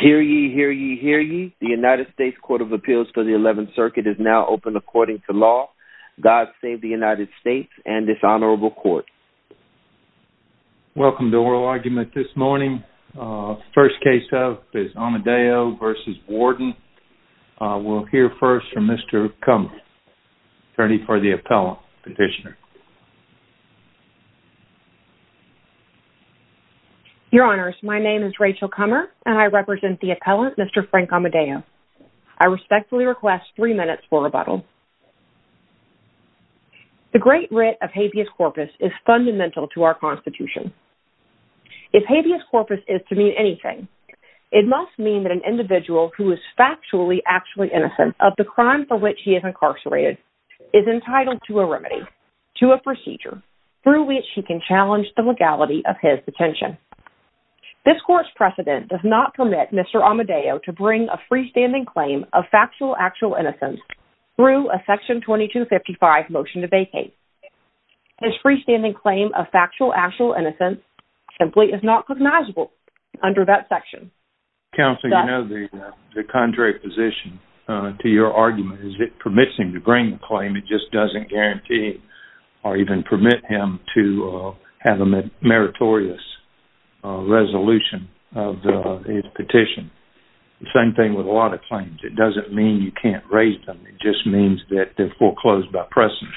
Hear ye, hear ye, hear ye. The United States Court of Appeals for the 11th Circuit is now open according to law. God save the United States and this honorable court. Welcome to oral argument this morning. First case up is Amodeo v. Warden. We'll hear first from Mr. Kummer, attorney for the appellant petitioner. Your honors, my name is Rachel Kummer and I represent the appellant, Mr. Frank Amodeo. I respectfully request three minutes for rebuttal. The great writ of habeas corpus is fundamental to our constitution. If habeas corpus is to mean anything, it must mean that an individual who is factually actually through which he can challenge the legality of his detention. This court's precedent does not permit Mr. Amodeo to bring a freestanding claim of factual actual innocence through a section 2255 motion to vacate. His freestanding claim of factual actual innocence simply is not recognizable under that section. Counselor, you know the contrary position to your argument is it permits him to bring the claim, it just doesn't guarantee or even permit him to have a meritorious resolution of his petition. The same thing with a lot of claims. It doesn't mean you can't raise them. It just means that they're foreclosed by precedent.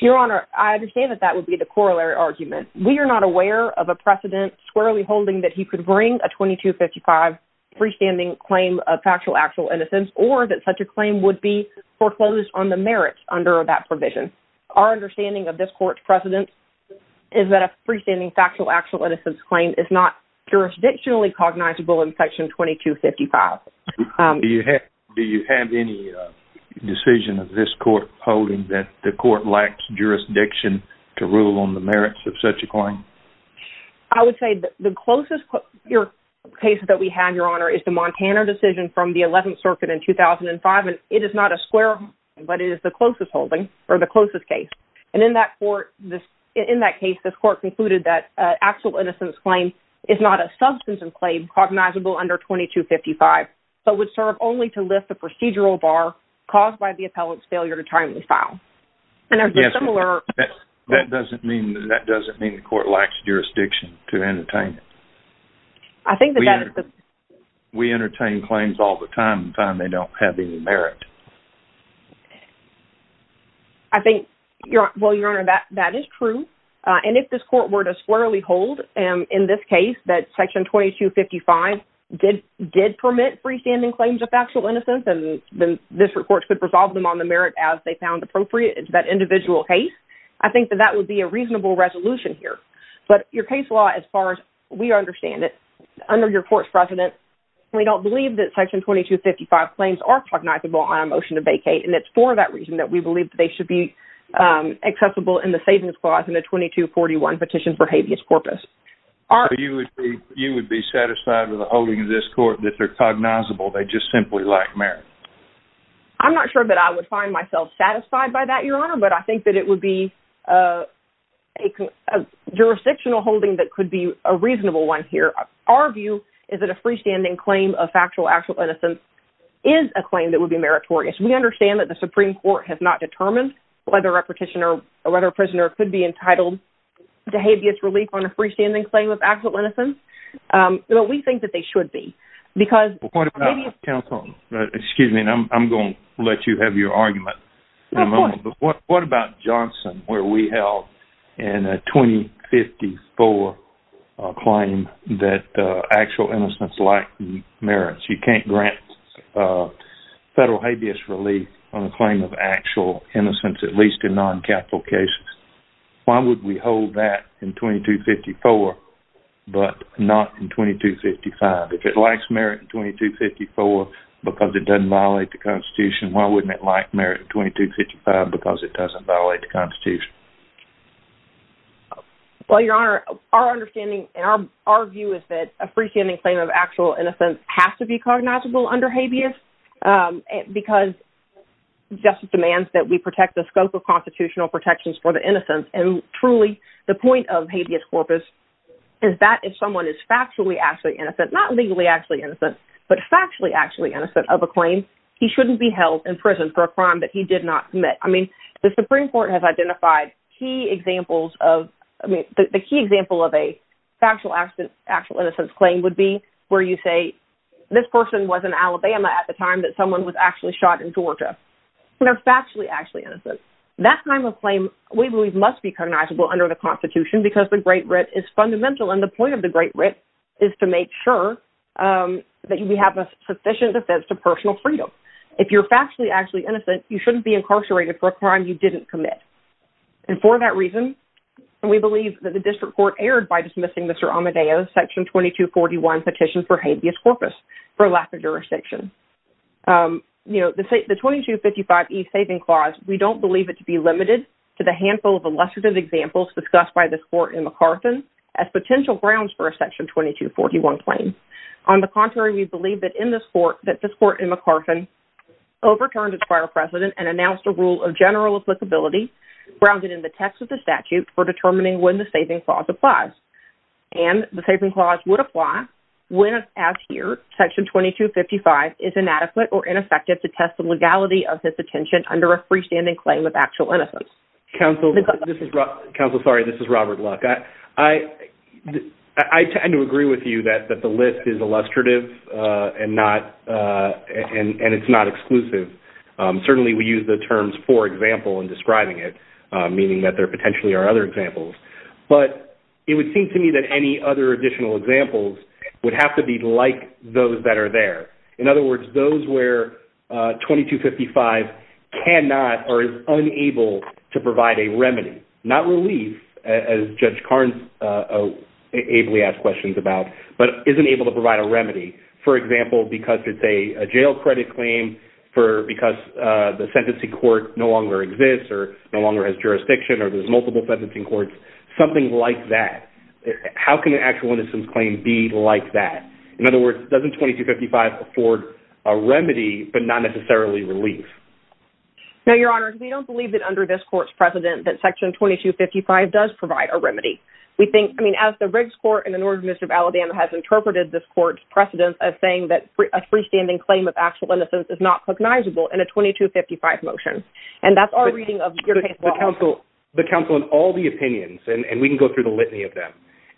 Your honor, I understand that that would be the corollary argument. We are not aware of a precedent squarely holding that he could bring a 2255 freestanding claim of factual actual innocence or that such a claim would be foreclosed on the merits under that provision. Our understanding of this court's precedent is that a freestanding factual actual innocence claim is not jurisdictionally cognizable in section 2255. Do you have any decision of this court holding that the court lacks jurisdiction to rule on the merits of such a claim? I would say that the closest your case that we have, your honor, is the Montana decision from the 11th circuit in 2005 and it is not a square but it is the closest holding or the closest case and in that court this in that case this court concluded that actual innocence claim is not a substantive claim cognizable under 2255 but would serve only to lift the procedural bar caused by the appellant's failure to timely file and there's a similar. That doesn't mean that doesn't mean the court lacks jurisdiction to entertain it. We entertain claims all the time and find they don't have any merit. I think, well, your honor, that is true and if this court were to squarely hold in this case that section 2255 did permit freestanding claims of factual innocence and then this report could resolve them on the merit as they found appropriate in that individual case, I think that that would be a reasonable resolution here but your case law as far as we understand it under your court's precedent we don't believe that section 2255 claims are cognizable on a motion to vacate and it's for that reason that we believe that they should be accessible in the savings clause in the 2241 petition for habeas corpus. You would be satisfied with the holding of this court that they're cognizable, they just simply lack merit? I'm not sure that I would find myself satisfied by that, your honor, but I think that it would be a jurisdictional holding that could be a reasonable one here. Our view is that a freestanding claim of factual actual innocence is a claim that would be meritorious. We understand that the Supreme Court has not determined whether a petitioner or whether a prisoner could be entitled to habeas relief on a freestanding claim of actual innocence but we think that they should be because... Excuse me, I'm going to let you have your argument in a moment, but what about Johnson where we held in a 2054 claim that actual innocence lacked merits? You can't grant federal habeas relief on a claim of actual innocence at least in non-capital cases. Why would we hold that in 2254 but not in 2255? If it lacks merit in 2254 because it doesn't violate the constitution, why wouldn't it lack merit in 2255 because it doesn't violate the constitution? Well, your honor, our understanding and our view is that a freestanding claim of actual innocence has to be cognizable under habeas because justice demands that we protect the scope of constitutional protections for the innocent and truly the point of habeas corpus is that if someone is factually actually innocent, not legally actually innocent, but factually actually innocent of a claim, he shouldn't be held in prison for a crime that he did not commit. I mean, the Supreme Court has identified key examples of... I mean, the key example of a factual actual innocence claim would be where you say, this person was in Alabama at the time that someone was actually shot in Georgia. They're factually actually innocent. That kind of claim, we believe, must be cognizable under the constitution because the great writ is fundamental and the point of the great writ is to make sure that we have a sufficient defense to personal freedom. If you're factually actually innocent, you shouldn't be incarcerated for a crime you didn't commit. And for that reason, we believe that the district court erred by dismissing Mr. Amadeo's section 2241 petition for habeas corpus for lack of jurisdiction. The 2255E saving clause, we don't believe it to be limited to the handful of illustrative examples discussed by this court in MacArthur as potential grounds for a section 2241 claim. On the contrary, we believe that in this court, that this court in MacArthur overturned its prior precedent and announced a rule of general applicability grounded in the text of the statute for determining when the saving clause applies. And the saving clause would apply when, as here, section 2255 is inadequate or ineffective to test the legality of his detention under a freestanding claim of actual innocence. Counsel, this is Robert Luck. I tend to agree with you that the list is illustrative and it's not exclusive. Certainly, we use the terms for example in describing it, meaning that there potentially are other examples. But it would seem to me that any other additional examples would have to be like those that are there. In other words, those where 2255 cannot or is unable to provide a remedy, not relief, as Judge Carnes ably asked questions about, but isn't able to provide a remedy. For example, because it's a jail credit because the sentencing court no longer exists or no longer has jurisdiction or there's multiple sentencing courts, something like that. How can an actual innocence claim be like that? In other words, doesn't 2255 afford a remedy but not necessarily relief? Now, Your Honor, we don't believe that under this court's precedent that section 2255 does provide a remedy. We think, I mean, as the Riggs Court and the Northern District of Alabama has said, it's not cognizable in a 2255 motion. And that's our reading of your case law. The counsel in all the opinions, and we can go through the litany of them,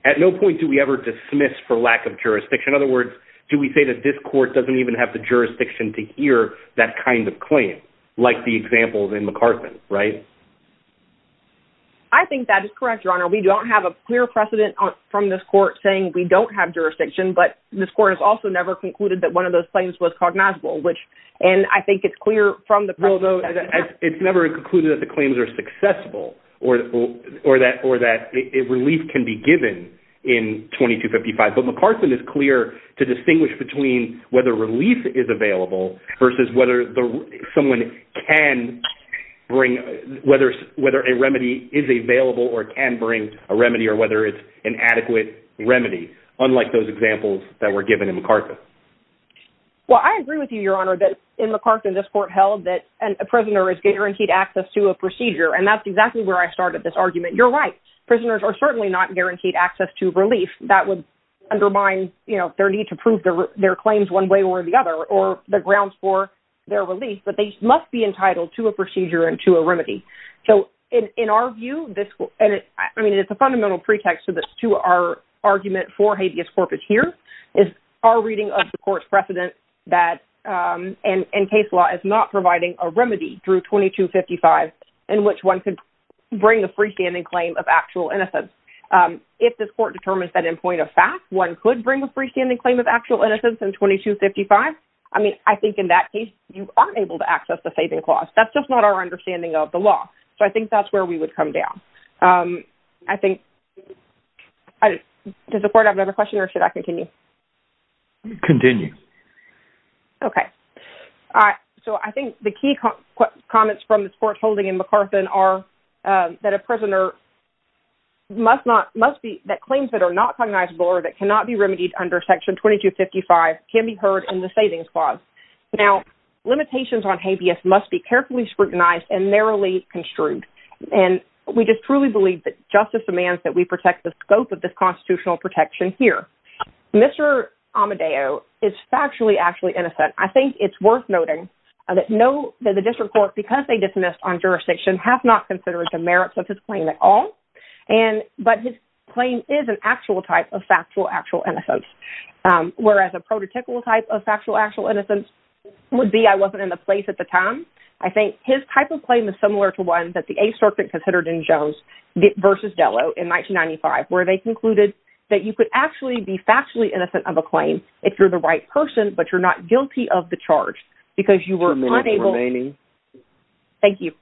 at no point do we ever dismiss for lack of jurisdiction. In other words, do we say that this court doesn't even have the jurisdiction to hear that kind of claim, like the examples in McArthur, right? I think that is correct, Your Honor. We don't have a clear precedent from this court saying we don't have jurisdiction, but this court has also never concluded that one of those claims was cognizable, which, and I think it's clear from the- Although it's never concluded that the claims are successful or that relief can be given in 2255. But McArthur is clear to distinguish between whether relief is available versus whether someone can bring, whether a remedy is available or can bring a remedy or whether it's an adequate remedy, unlike those examples that were given in McArthur. Well, I agree with you, Your Honor, that in McArthur, this court held that a prisoner is guaranteed access to a procedure, and that's exactly where I started this argument. You're right. Prisoners are certainly not guaranteed access to relief that would undermine their need to prove their claims one way or the other or the grounds for their relief, but they must be entitled to a procedure and to a remedy. So in our view, and I mean, it's a fundamental pretext to our argument for habeas corpus here, is our reading of the court's precedent that in case law is not providing a remedy through 2255 in which one could bring a freestanding claim of actual innocence. If this court determines that in point of fact, one could bring a freestanding claim of actual innocence in 2255, I mean, I think in that case, you aren't able to access the saving clause. That's just not our understanding of the law. So I think that's we would come down. Does the court have another question or should I continue? Continue. Okay. So I think the key comments from the court holding in McArthur are that a prisoner must be, that claims that are not cognizable or that cannot be remedied under section 2255 can be heard in the savings clause. Now, we just truly believe that justice demands that we protect the scope of this constitutional protection here. Mr. Amadeo is factually actually innocent. I think it's worth noting that no, that the district court, because they dismissed on jurisdiction have not considered the merits of his claim at all. And, but his claim is an actual type of factual, actual innocence. Whereas a prototypical type of factual, actual innocence would be, I wasn't in the place at the time. I think his type of claim is similar to one that the A circuit considered in Jones versus Delo in 1995, where they concluded that you could actually be factually innocent of a claim if you're the right person, but you're not guilty of the charge because you were unable. Thank you.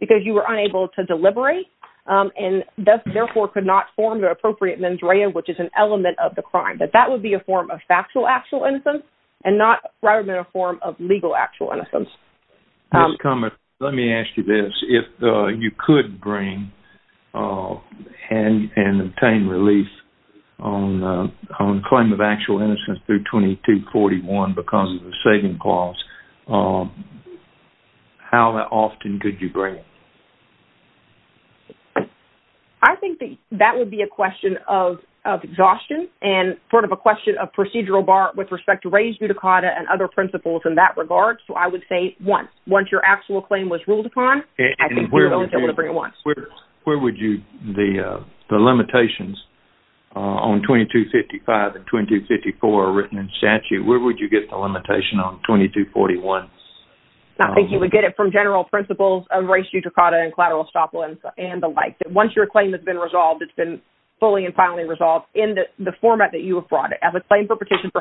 Because you were unable to deliberate and thus therefore could not form the appropriate mens rea, which is an element of the crime, that that would be a form of factual, actual innocence and not rather than a form of legal, actual innocence. Ms. Cummings, let me ask you this. If you could bring and obtain relief on a claim of actual innocence through 2241 because of the saving clause, how often could you bring it? I think that that would be a question of exhaustion and sort of a question of procedural with respect to reis judicata and other principles in that regard. So I would say once. Once your actual claim was ruled upon, I think you would only be able to bring it once. Where would you, the limitations on 2255 and 2254 are written in statute, where would you get the limitation on 2241? I think you would get it from general principles of reis judicata and collateral estoppel and the like. Once your claim has been resolved, it's been fully and finally resolved in the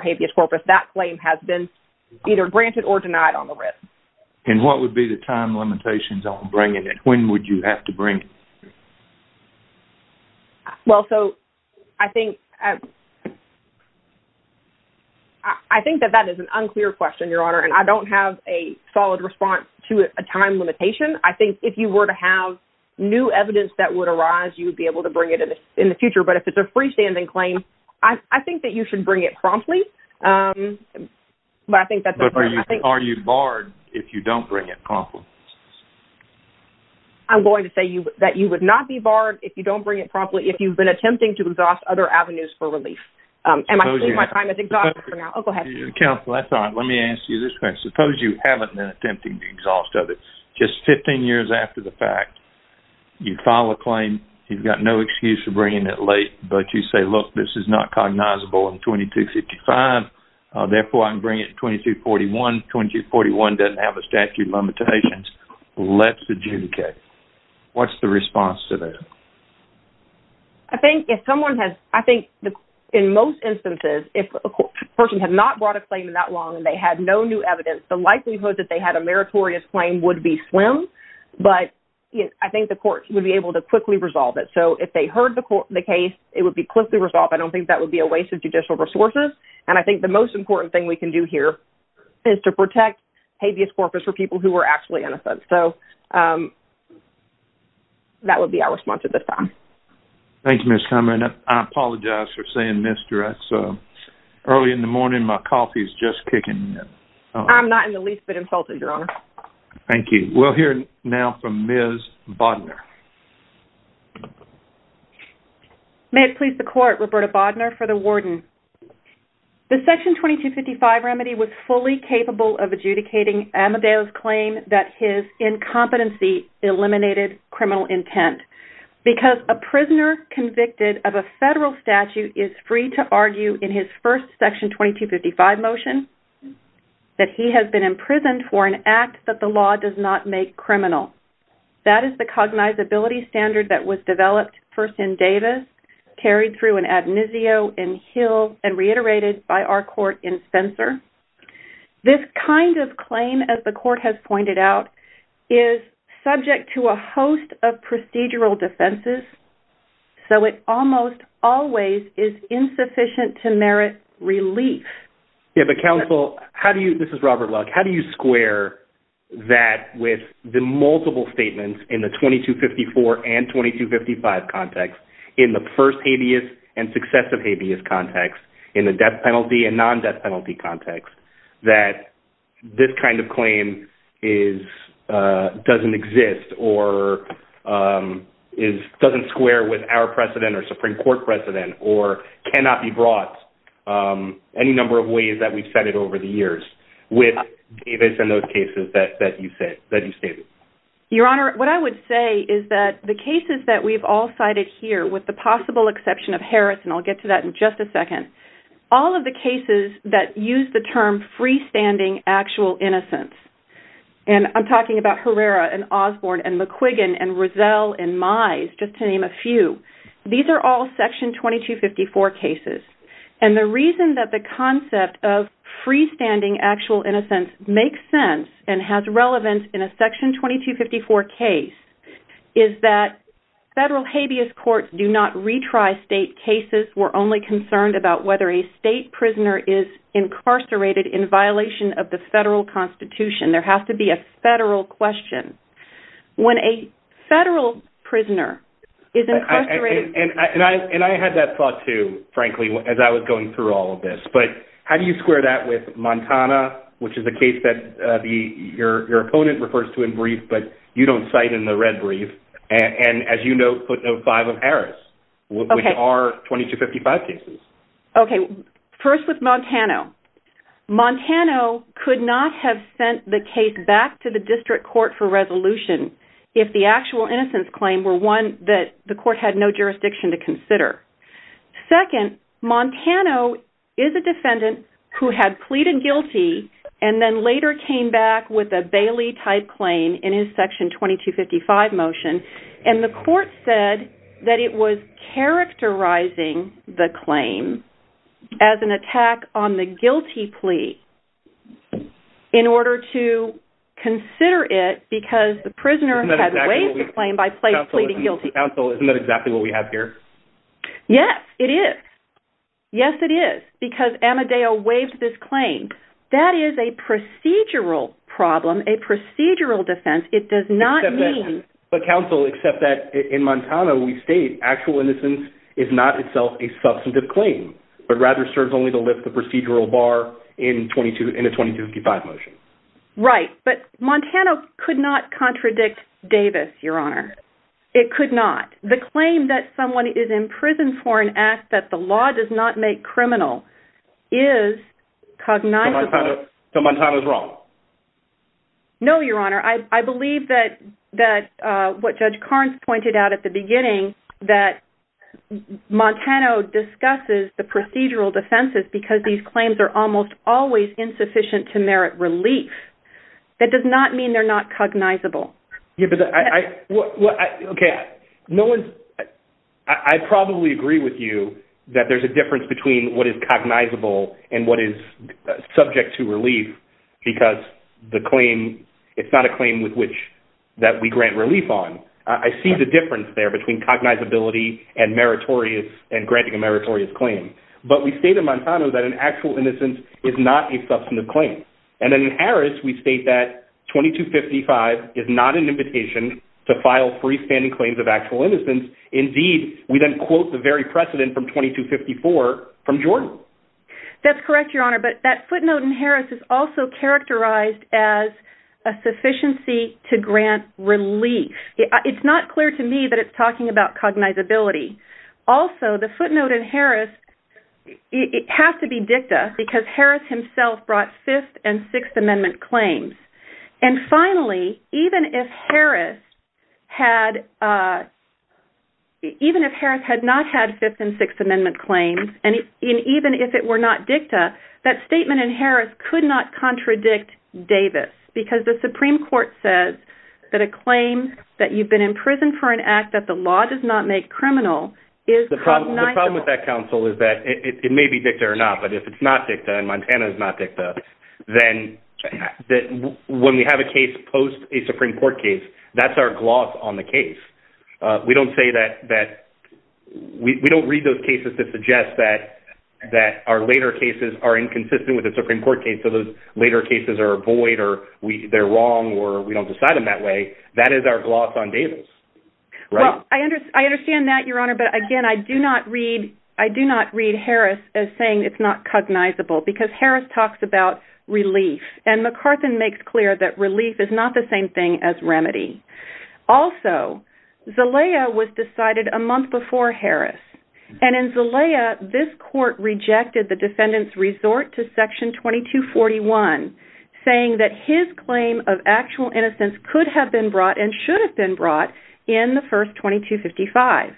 habeas corpus. That claim has been either granted or denied on the writ. And what would be the time limitations on bringing it? When would you have to bring it? Well, so I think that that is an unclear question, Your Honor, and I don't have a solid response to a time limitation. I think if you were to have new evidence that would arise, you would be able to bring it in the future. But if it's a freestanding claim, I think that you should bring it promptly. Are you barred if you don't bring it promptly? I'm going to say that you would not be barred if you don't bring it promptly if you've been attempting to exhaust other avenues for relief. Am I saying my time is exhausted for now? Oh, go ahead. Counsel, that's all right. Let me ask you this question. Suppose you haven't been attempting to exhaust others. Just 15 years after the fact, you file a claim, you've got no excuse for not cognizable in 2255. Therefore, I can bring it in 2241. 2241 doesn't have a statute of limitations. Let's adjudicate. What's the response to that? I think if someone has, I think in most instances, if a person had not brought a claim in that long and they had no new evidence, the likelihood that they had a meritorious claim would be slim. But I think the court would be able to quickly resolve it. So if they heard the case, it would be quickly resolved. I don't think that would be a waste of judicial resources. And I think the most important thing we can do here is to protect habeas corpus for people who are actually innocent. So that would be our response at this time. Thank you, Ms. Comer. And I apologize for saying, Ms. Jarrett, so early in the morning, my coffee is just kicking in. I'm not in the least bit insulted, Your Honor. Thank you. We'll hear now from Ms. Bodner. May it please the court, Roberta Bodner for the warden. The Section 2255 remedy was fully capable of adjudicating Amadeo's claim that his incompetency eliminated criminal intent because a prisoner convicted of a federal statute is free to argue in his first Section 2255 motion that he has been imprisoned for an act that the law does not make criminal. That is the cognizability standard that was developed first in carried through an ad misio in Hill and reiterated by our court in Spencer. This kind of claim, as the court has pointed out, is subject to a host of procedural defenses. So it almost always is insufficient to merit relief. Yeah, but counsel, how do you, this is Robert Welk, how do you square that with the multiple statements in the 2254 and 2255 context in the first habeas and successive habeas context in the death penalty and non-death penalty context that this kind of claim is, doesn't exist or is, doesn't square with our precedent or Supreme Court precedent or cannot be brought any number of ways that we've said it over the years with Davis and those cases that you said, that you stated? Your Honor, what I would say is that the cases that we've all cited here with the possible exception of Harris, and I'll get to that in just a second, all of the cases that use the term freestanding actual innocence, and I'm talking about Herrera and Osborne and McQuiggan and Rizal and Mize, just to name a few. These are all Section 2254 cases. And the reason that the concept of freestanding actual innocence makes sense and has relevance in a Section 2254 case is that federal habeas courts do not retry state cases. We're only concerned about whether a state prisoner is incarcerated in violation of the federal Constitution. There has to be a federal question. When a federal prisoner is incarcerated... And I had that thought too, frankly, as I was going through all of this, but how do you square that with Montana, which is a case that your opponent refers to in brief, but you don't cite in the red brief, and as you note, footnote five of Harris, which are 2255 cases. Okay, first with Montana. Montana could not have sent the case back to the district court for resolution if the actual innocence claim were one that the court had no jurisdiction to consider. Second, Montana is a defendant who had pleaded guilty and then later came back with a Bailey-type claim in his Section 2255 motion. And the court said that it was characterizing the claim as an attack on the guilty plea in order to consider it because the prisoner had waived the claim by pleading guilty. Counsel, isn't that exactly what we have here? Yes, it is. Yes, it is, because Amadeo waived this claim. That is a procedural problem, a procedural defense. It does not mean- But counsel, except that in Montana, we state actual innocence is not itself a substantive claim, but rather serves only to lift the procedural bar in a 2255 motion. Right, but Montana could not contradict Davis, Your Honor. It could not. The claim that someone is in prison for an act that the law does not make criminal is cognizable- So Montana is wrong? No, Your Honor. I believe that what Judge Carnes pointed out at the beginning, that Montana discusses the procedural defenses because these claims are almost always insufficient to merit relief. That does not mean they're not cognizable. Okay. I probably agree with you that there's a difference between what is cognizable and what is subject to relief because it's not a claim with which that we grant relief on. I see the difference there between cognizability and granting a meritorious claim. But we state in Montana that an actual innocence is not a substantive claim. And then in Harris, we state that 2255 is not an invitation to file freestanding claims of actual innocence. Indeed, we then quote the very precedent from 2254 from Jordan. That's correct, Your Honor. But that footnote in Harris is also characterized as a sufficiency to grant relief. It's not clear to me that it's talking about cognizability. Also, the footnote in Harris, it has to be dicta because Harris himself brought Fifth and Sixth Amendment claims. And finally, even if Harris had not had Fifth and Sixth Amendment claims, and even if it were not dicta, that statement in Harris could not contradict Davis because the Supreme Court says that a claim that you've been in prison for an act that the law does not make criminal is cognizable. The problem with that counsel is that it may be dicta or not, but if it's not dicta and Montana is not dicta, then when we have a case post a Supreme Court case, that's our gloss on the case. We don't read those cases to suggest that our later cases are inconsistent with a Supreme Court case. So those later cases are void or they're wrong or we don't decide them that way. That is our gloss on Davis. Well, I understand that, Your Honor. But again, I do not read Harris as saying it's not cognizable because Harris talks about relief and McCarthan makes clear that relief is not the same thing as remedy. Also, Zelaya was decided a month before Harris. And in Zelaya, this court rejected the defendant's resort to Section 2241, saying that his claim of actual innocence could have been brought and should have been brought in the first Section 2255.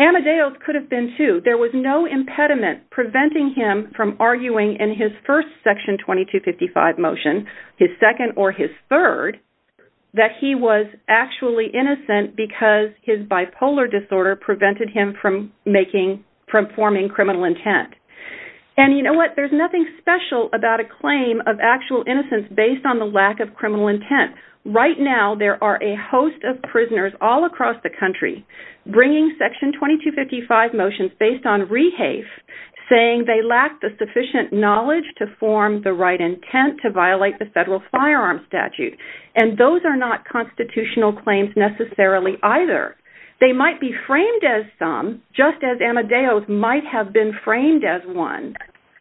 Amadeus could have been too. There was no impediment preventing him from arguing in his first Section 2255 motion, his second or his third, that he was actually innocent because his bipolar disorder prevented him from forming criminal intent. And you know what? There's nothing special about a claim of actual innocence based on the lack of criminal intent. Right now, there are a host of prisoners all across the country bringing Section 2255 motions based on rehafe, saying they lack the sufficient knowledge to form the right intent to violate the federal firearm statute. And those are not constitutional claims necessarily either. They might be framed as some, just as Amadeus might have been framed as one.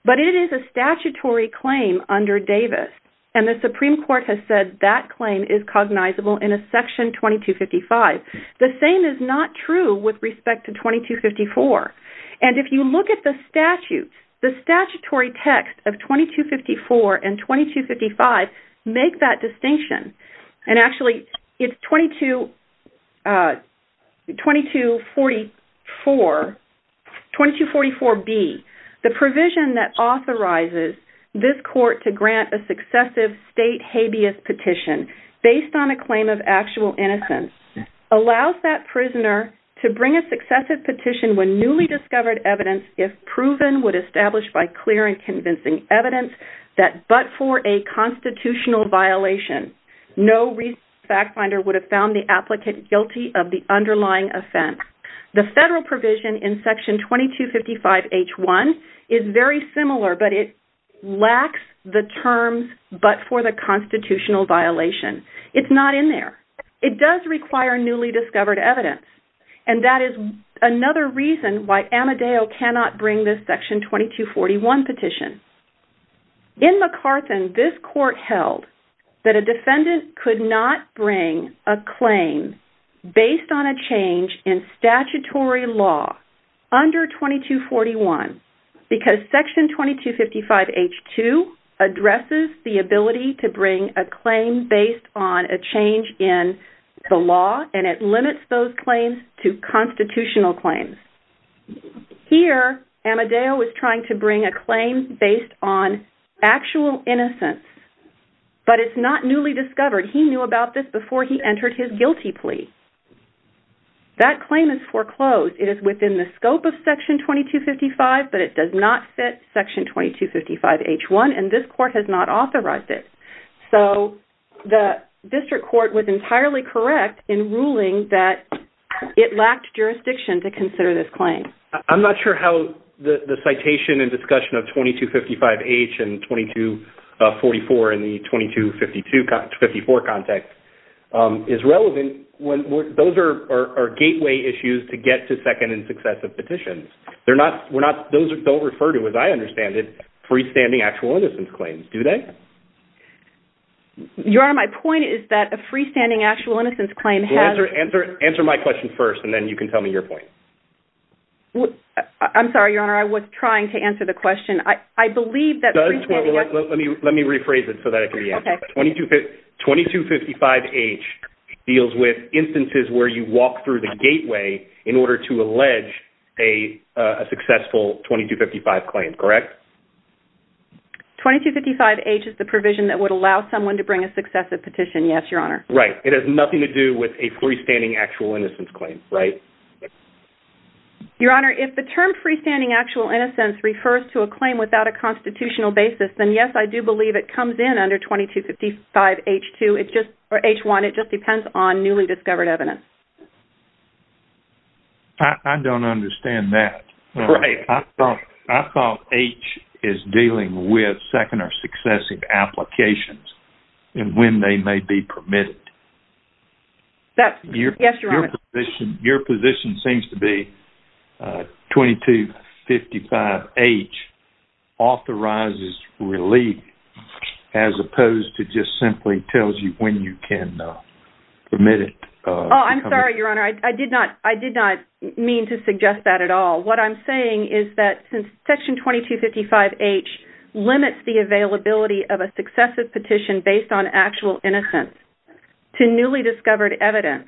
But it is a statutory claim under Davis. And the Supreme Court has said that claim is cognizable in a Section 2255. The same is not true with respect to 2254. And if you look at the statute, the statutory text of 2254 and 2255 make that distinction. And actually, it's 2244, 2244B, the provision that authorizes this court to grant a successive state habeas petition based on a claim of actual innocence allows that prisoner to bring a successive petition when newly discovered evidence, if proven, would establish by clear and convincing evidence that but for a constitutional violation, no fact finder would have found the applicant guilty of the underlying offense. The federal provision in Section 2255-H1 is very similar, but it lacks the terms but for the constitutional violation. It's not in there. It does require newly discovered evidence. And that is another reason why Amadeus cannot bring this Section 2241 petition. In McCarthan, this court held that a defendant could not bring a claim based on a change in statutory law under 2241 because Section 2255-H2 addresses the ability to bring a claim based on a change in the law and it limits those claims to constitutional claims. Here, Amadeus was trying to bring a claim based on actual innocence, but it's not newly discovered. He knew about this before he entered his guilty plea. That claim is foreclosed. It is within the scope of Section 2255, but it does not fit Section 2255-H1 and this court has not authorized it. So, the district court was entirely correct in ruling that it lacked jurisdiction to consider this claim. I'm not sure how the citation and discussion of 2255-H and 2244 and the 2254 context is relevant when those are gateway issues to get to second and successive petitions. Those don't refer to, as I understand it, freestanding actual innocence claims, do they? Your Honor, my point is that a freestanding actual innocence claim has... Well, answer my question first and then you can tell me your point. I'm sorry, Your Honor. I was trying to answer the question. I believe that... Let me rephrase it so that I can answer. 2255-H deals with instances where you walk through the gateway in order to allege a successful 2255 claim, correct? 2255-H is the provision that would allow someone to bring a successive petition, yes, Your Honor. Right. It has nothing to do with a freestanding actual innocence claim, right? Your Honor, if the term freestanding actual innocence refers to a claim without a constitutional basis, then yes, I do believe it comes in under 2255-H1. It just depends on newly discovered evidence. I don't understand that. I thought H is dealing with second or successive applications and when they may be permitted. That's... Yes, Your Honor. Your position seems to be 2255-H authorizes relief as opposed to just simply tells you when you can permit it. Oh, I'm sorry, Your Honor. I did not mean to suggest that at all. What I'm saying is that since Section 2255-H limits the availability of a successive petition based on actual innocence, to newly discovered evidence,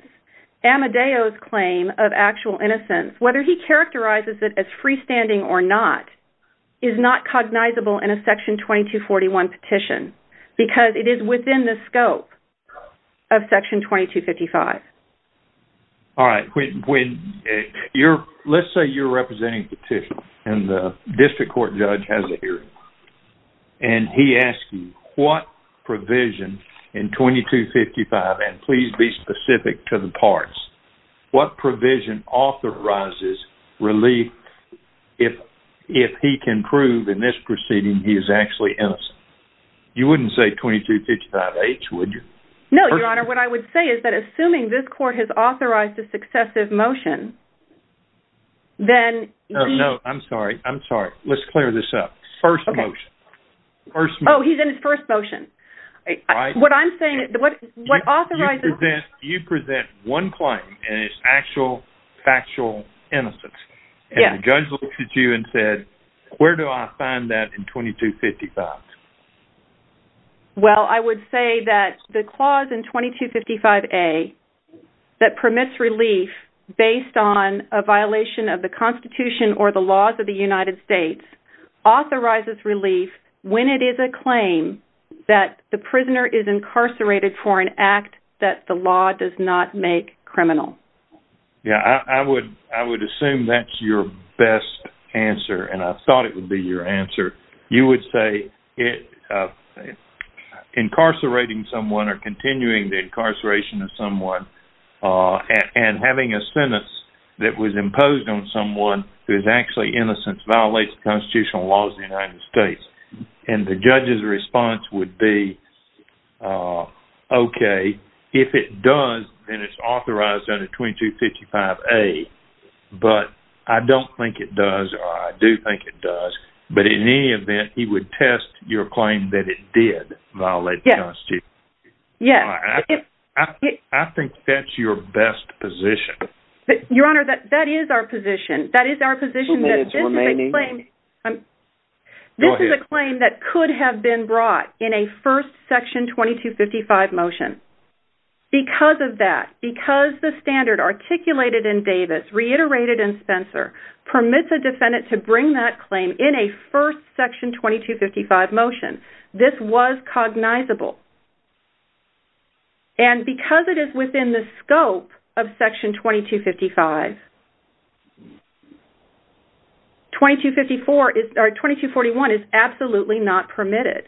Amadeo's claim of actual innocence, whether he characterizes it as freestanding or not, is not cognizable in a Section 2241 petition because it is within the scope of Section 2255. All right. Let's say you're representing a petition and the district court judge has 2255-H. Please be specific to the parts. What provision authorizes relief if he can prove in this proceeding he is actually innocent? You wouldn't say 2255-H, would you? No, Your Honor. What I would say is that assuming this court has authorized a successive motion, then... No, I'm sorry. I'm sorry. Let's clear this up. First motion. First motion. All right. What I'm saying... What authorizes... You present one claim and it's actual, factual innocence. Yes. And the judge looks at you and said, where do I find that in 2255? Well, I would say that the clause in 2255-A that permits relief based on a violation of the Constitution or the laws of the United States authorizes relief when it is a claim that the prisoner is incarcerated for an act that the law does not make criminal. Yeah. I would assume that's your best answer, and I thought it would be your answer. You would say incarcerating someone or continuing the incarceration of someone and having a sentence that was imposed on someone who is actually innocent violates Constitutional laws of the United States. And the judge's response would be, okay, if it does, then it's authorized under 2255-A. But I don't think it does, or I do think it does. But in any event, he would test your claim that it did violate the Constitution. Yes. I think that's your best position. Your Honor, that is our position. That is our position that this is a claim... Two minutes remaining. Go ahead. This is a claim that could have been brought in a first Section 2255 motion. Because of that, because the standard articulated in Davis, reiterated in Spencer, permits a defendant to bring that claim in a first Section 2255 motion, this was cognizable. And because it is within the scope of Section 2255, 2251 is absolutely not permitted.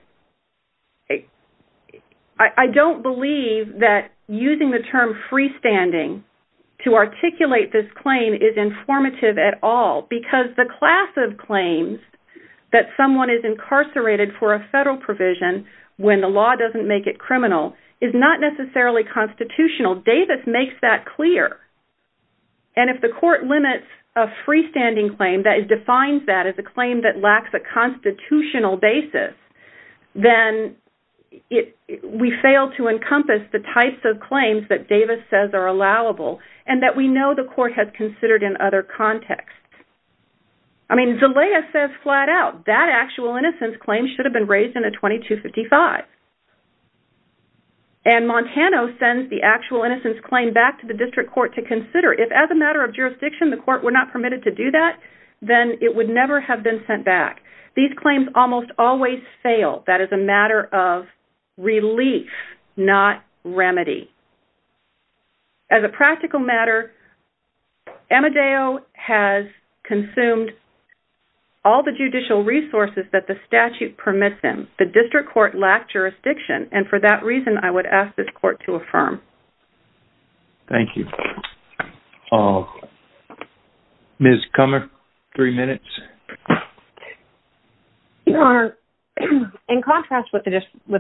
I don't believe that using the term freestanding to articulate this claim is informative at all, because the class of claims that someone is making criminal is not necessarily constitutional. Davis makes that clear. And if the court limits a freestanding claim that defines that as a claim that lacks a constitutional basis, then we fail to encompass the types of claims that Davis says are allowable, and that we know the court has considered in other contexts. I mean, Zelaya says flat out, that actual innocence claim should have been raised in a 2255. And Montano sends the actual innocence claim back to the district court to consider. If as a matter of jurisdiction, the court were not permitted to do that, then it would never have been sent back. These claims almost always fail. That is a matter of relief, not remedy. As a practical matter, Amadeo has consumed all the judicial resources that the statute permits him. The district court lacked jurisdiction. And for that reason, I would ask this court to affirm. Thank you. Ms. Kummer, three minutes. In contrast with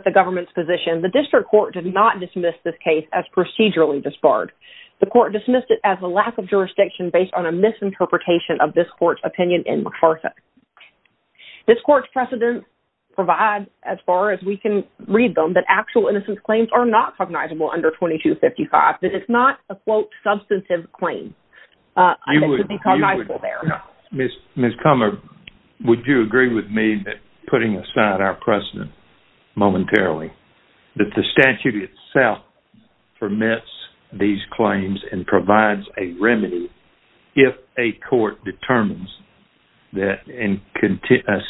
the government's position, the district court did not dismiss this case as procedurally disbarred. The court dismissed it as a lack of jurisdiction based on a misinterpretation of this court's opinion in McPherson. This court's precedent provides, as far as we can read them, that actual innocence claims are not cognizable under 2255. That it's not a, quote, substantive claim. You would be cognizable there. Ms. Kummer, would you agree with me that putting aside our precedent momentarily, that the statute itself permits these claims and provides a remedy if a court determines that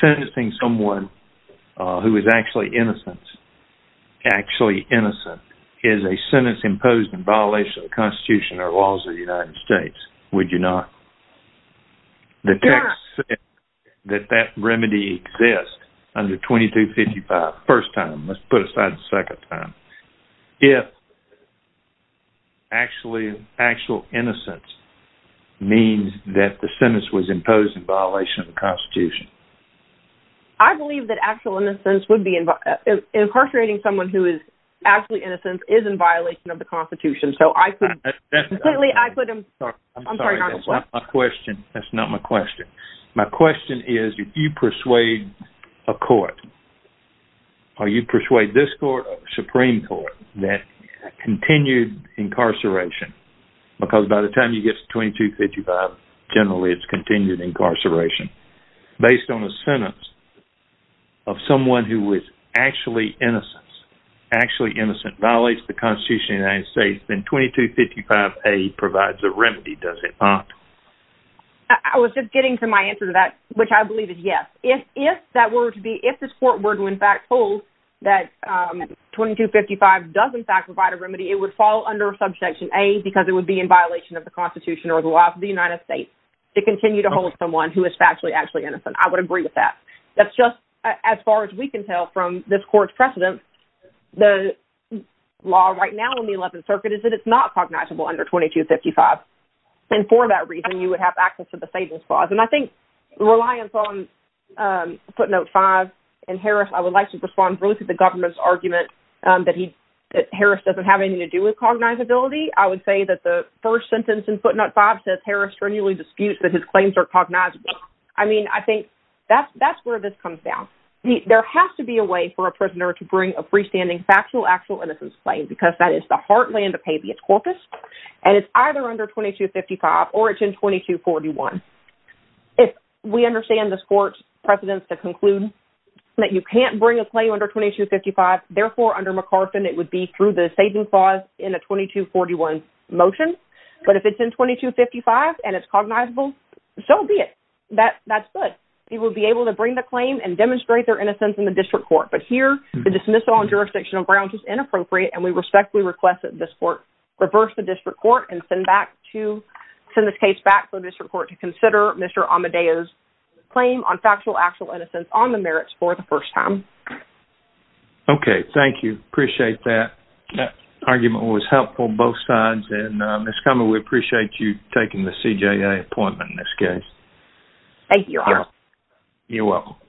sentencing someone who is actually innocent is a sentence imposed in violation of the Constitution or laws of the United States? Would you not? The text says that that remedy exists under 2255, first time. Let's put aside the second time. If actually, actual innocence means that the sentence was imposed in violation of the Constitution. I believe that actual innocence would be, incarcerating someone who is actually innocent is in violation of the Constitution. So I could, I could, I'm sorry, that's not my question. That's not my question. My question is, if you persuade a court, or you persuade this court, or the Supreme Court, that continued incarceration, because by the time you get to 2255, generally it's continued incarceration, based on a sentence of someone who is actually innocent, actually innocent, violates the Constitution of the United States, then 2255A provides a remedy? I was just getting to my answer to that, which I believe is yes. If that were to be, if this court were to in fact hold that 2255 does in fact provide a remedy, it would fall under subsection A because it would be in violation of the Constitution or the laws of the United States to continue to hold someone who is factually actually innocent. I would agree with that. That's just, as far as we can tell from this court's precedent, the law right now in the United States would have access to the savings clause. And I think reliance on footnote five, and Harris, I would like to respond briefly to the government's argument that he, that Harris doesn't have anything to do with cognizability. I would say that the first sentence in footnote five says Harris strenuously disputes that his claims are cognizable. I mean, I think that's, that's where this comes down. There has to be a way for a prisoner to bring a freestanding factual, actual innocence claim, because that is the heartland of habeas corpus. And it's either under 2255, or it's in 2241. If we understand this court's precedents to conclude that you can't bring a claim under 2255, therefore under McCarthin, it would be through the saving clause in a 2241 motion. But if it's in 2255, and it's cognizable, so be it. That that's good. He will be able to bring the claim and demonstrate their innocence in the district court. But here, the dismissal on jurisdictional grounds is inappropriate. And we respectfully request this court reverse the district court and send back to send this case back to the district court to consider Mr. Amedeo's claim on factual, actual innocence on the merits for the first time. Okay, thank you. Appreciate that. That argument was helpful, both sides. And Miss Kummer, we appreciate you taking the CJA appointment in this case. Thank you. You're welcome.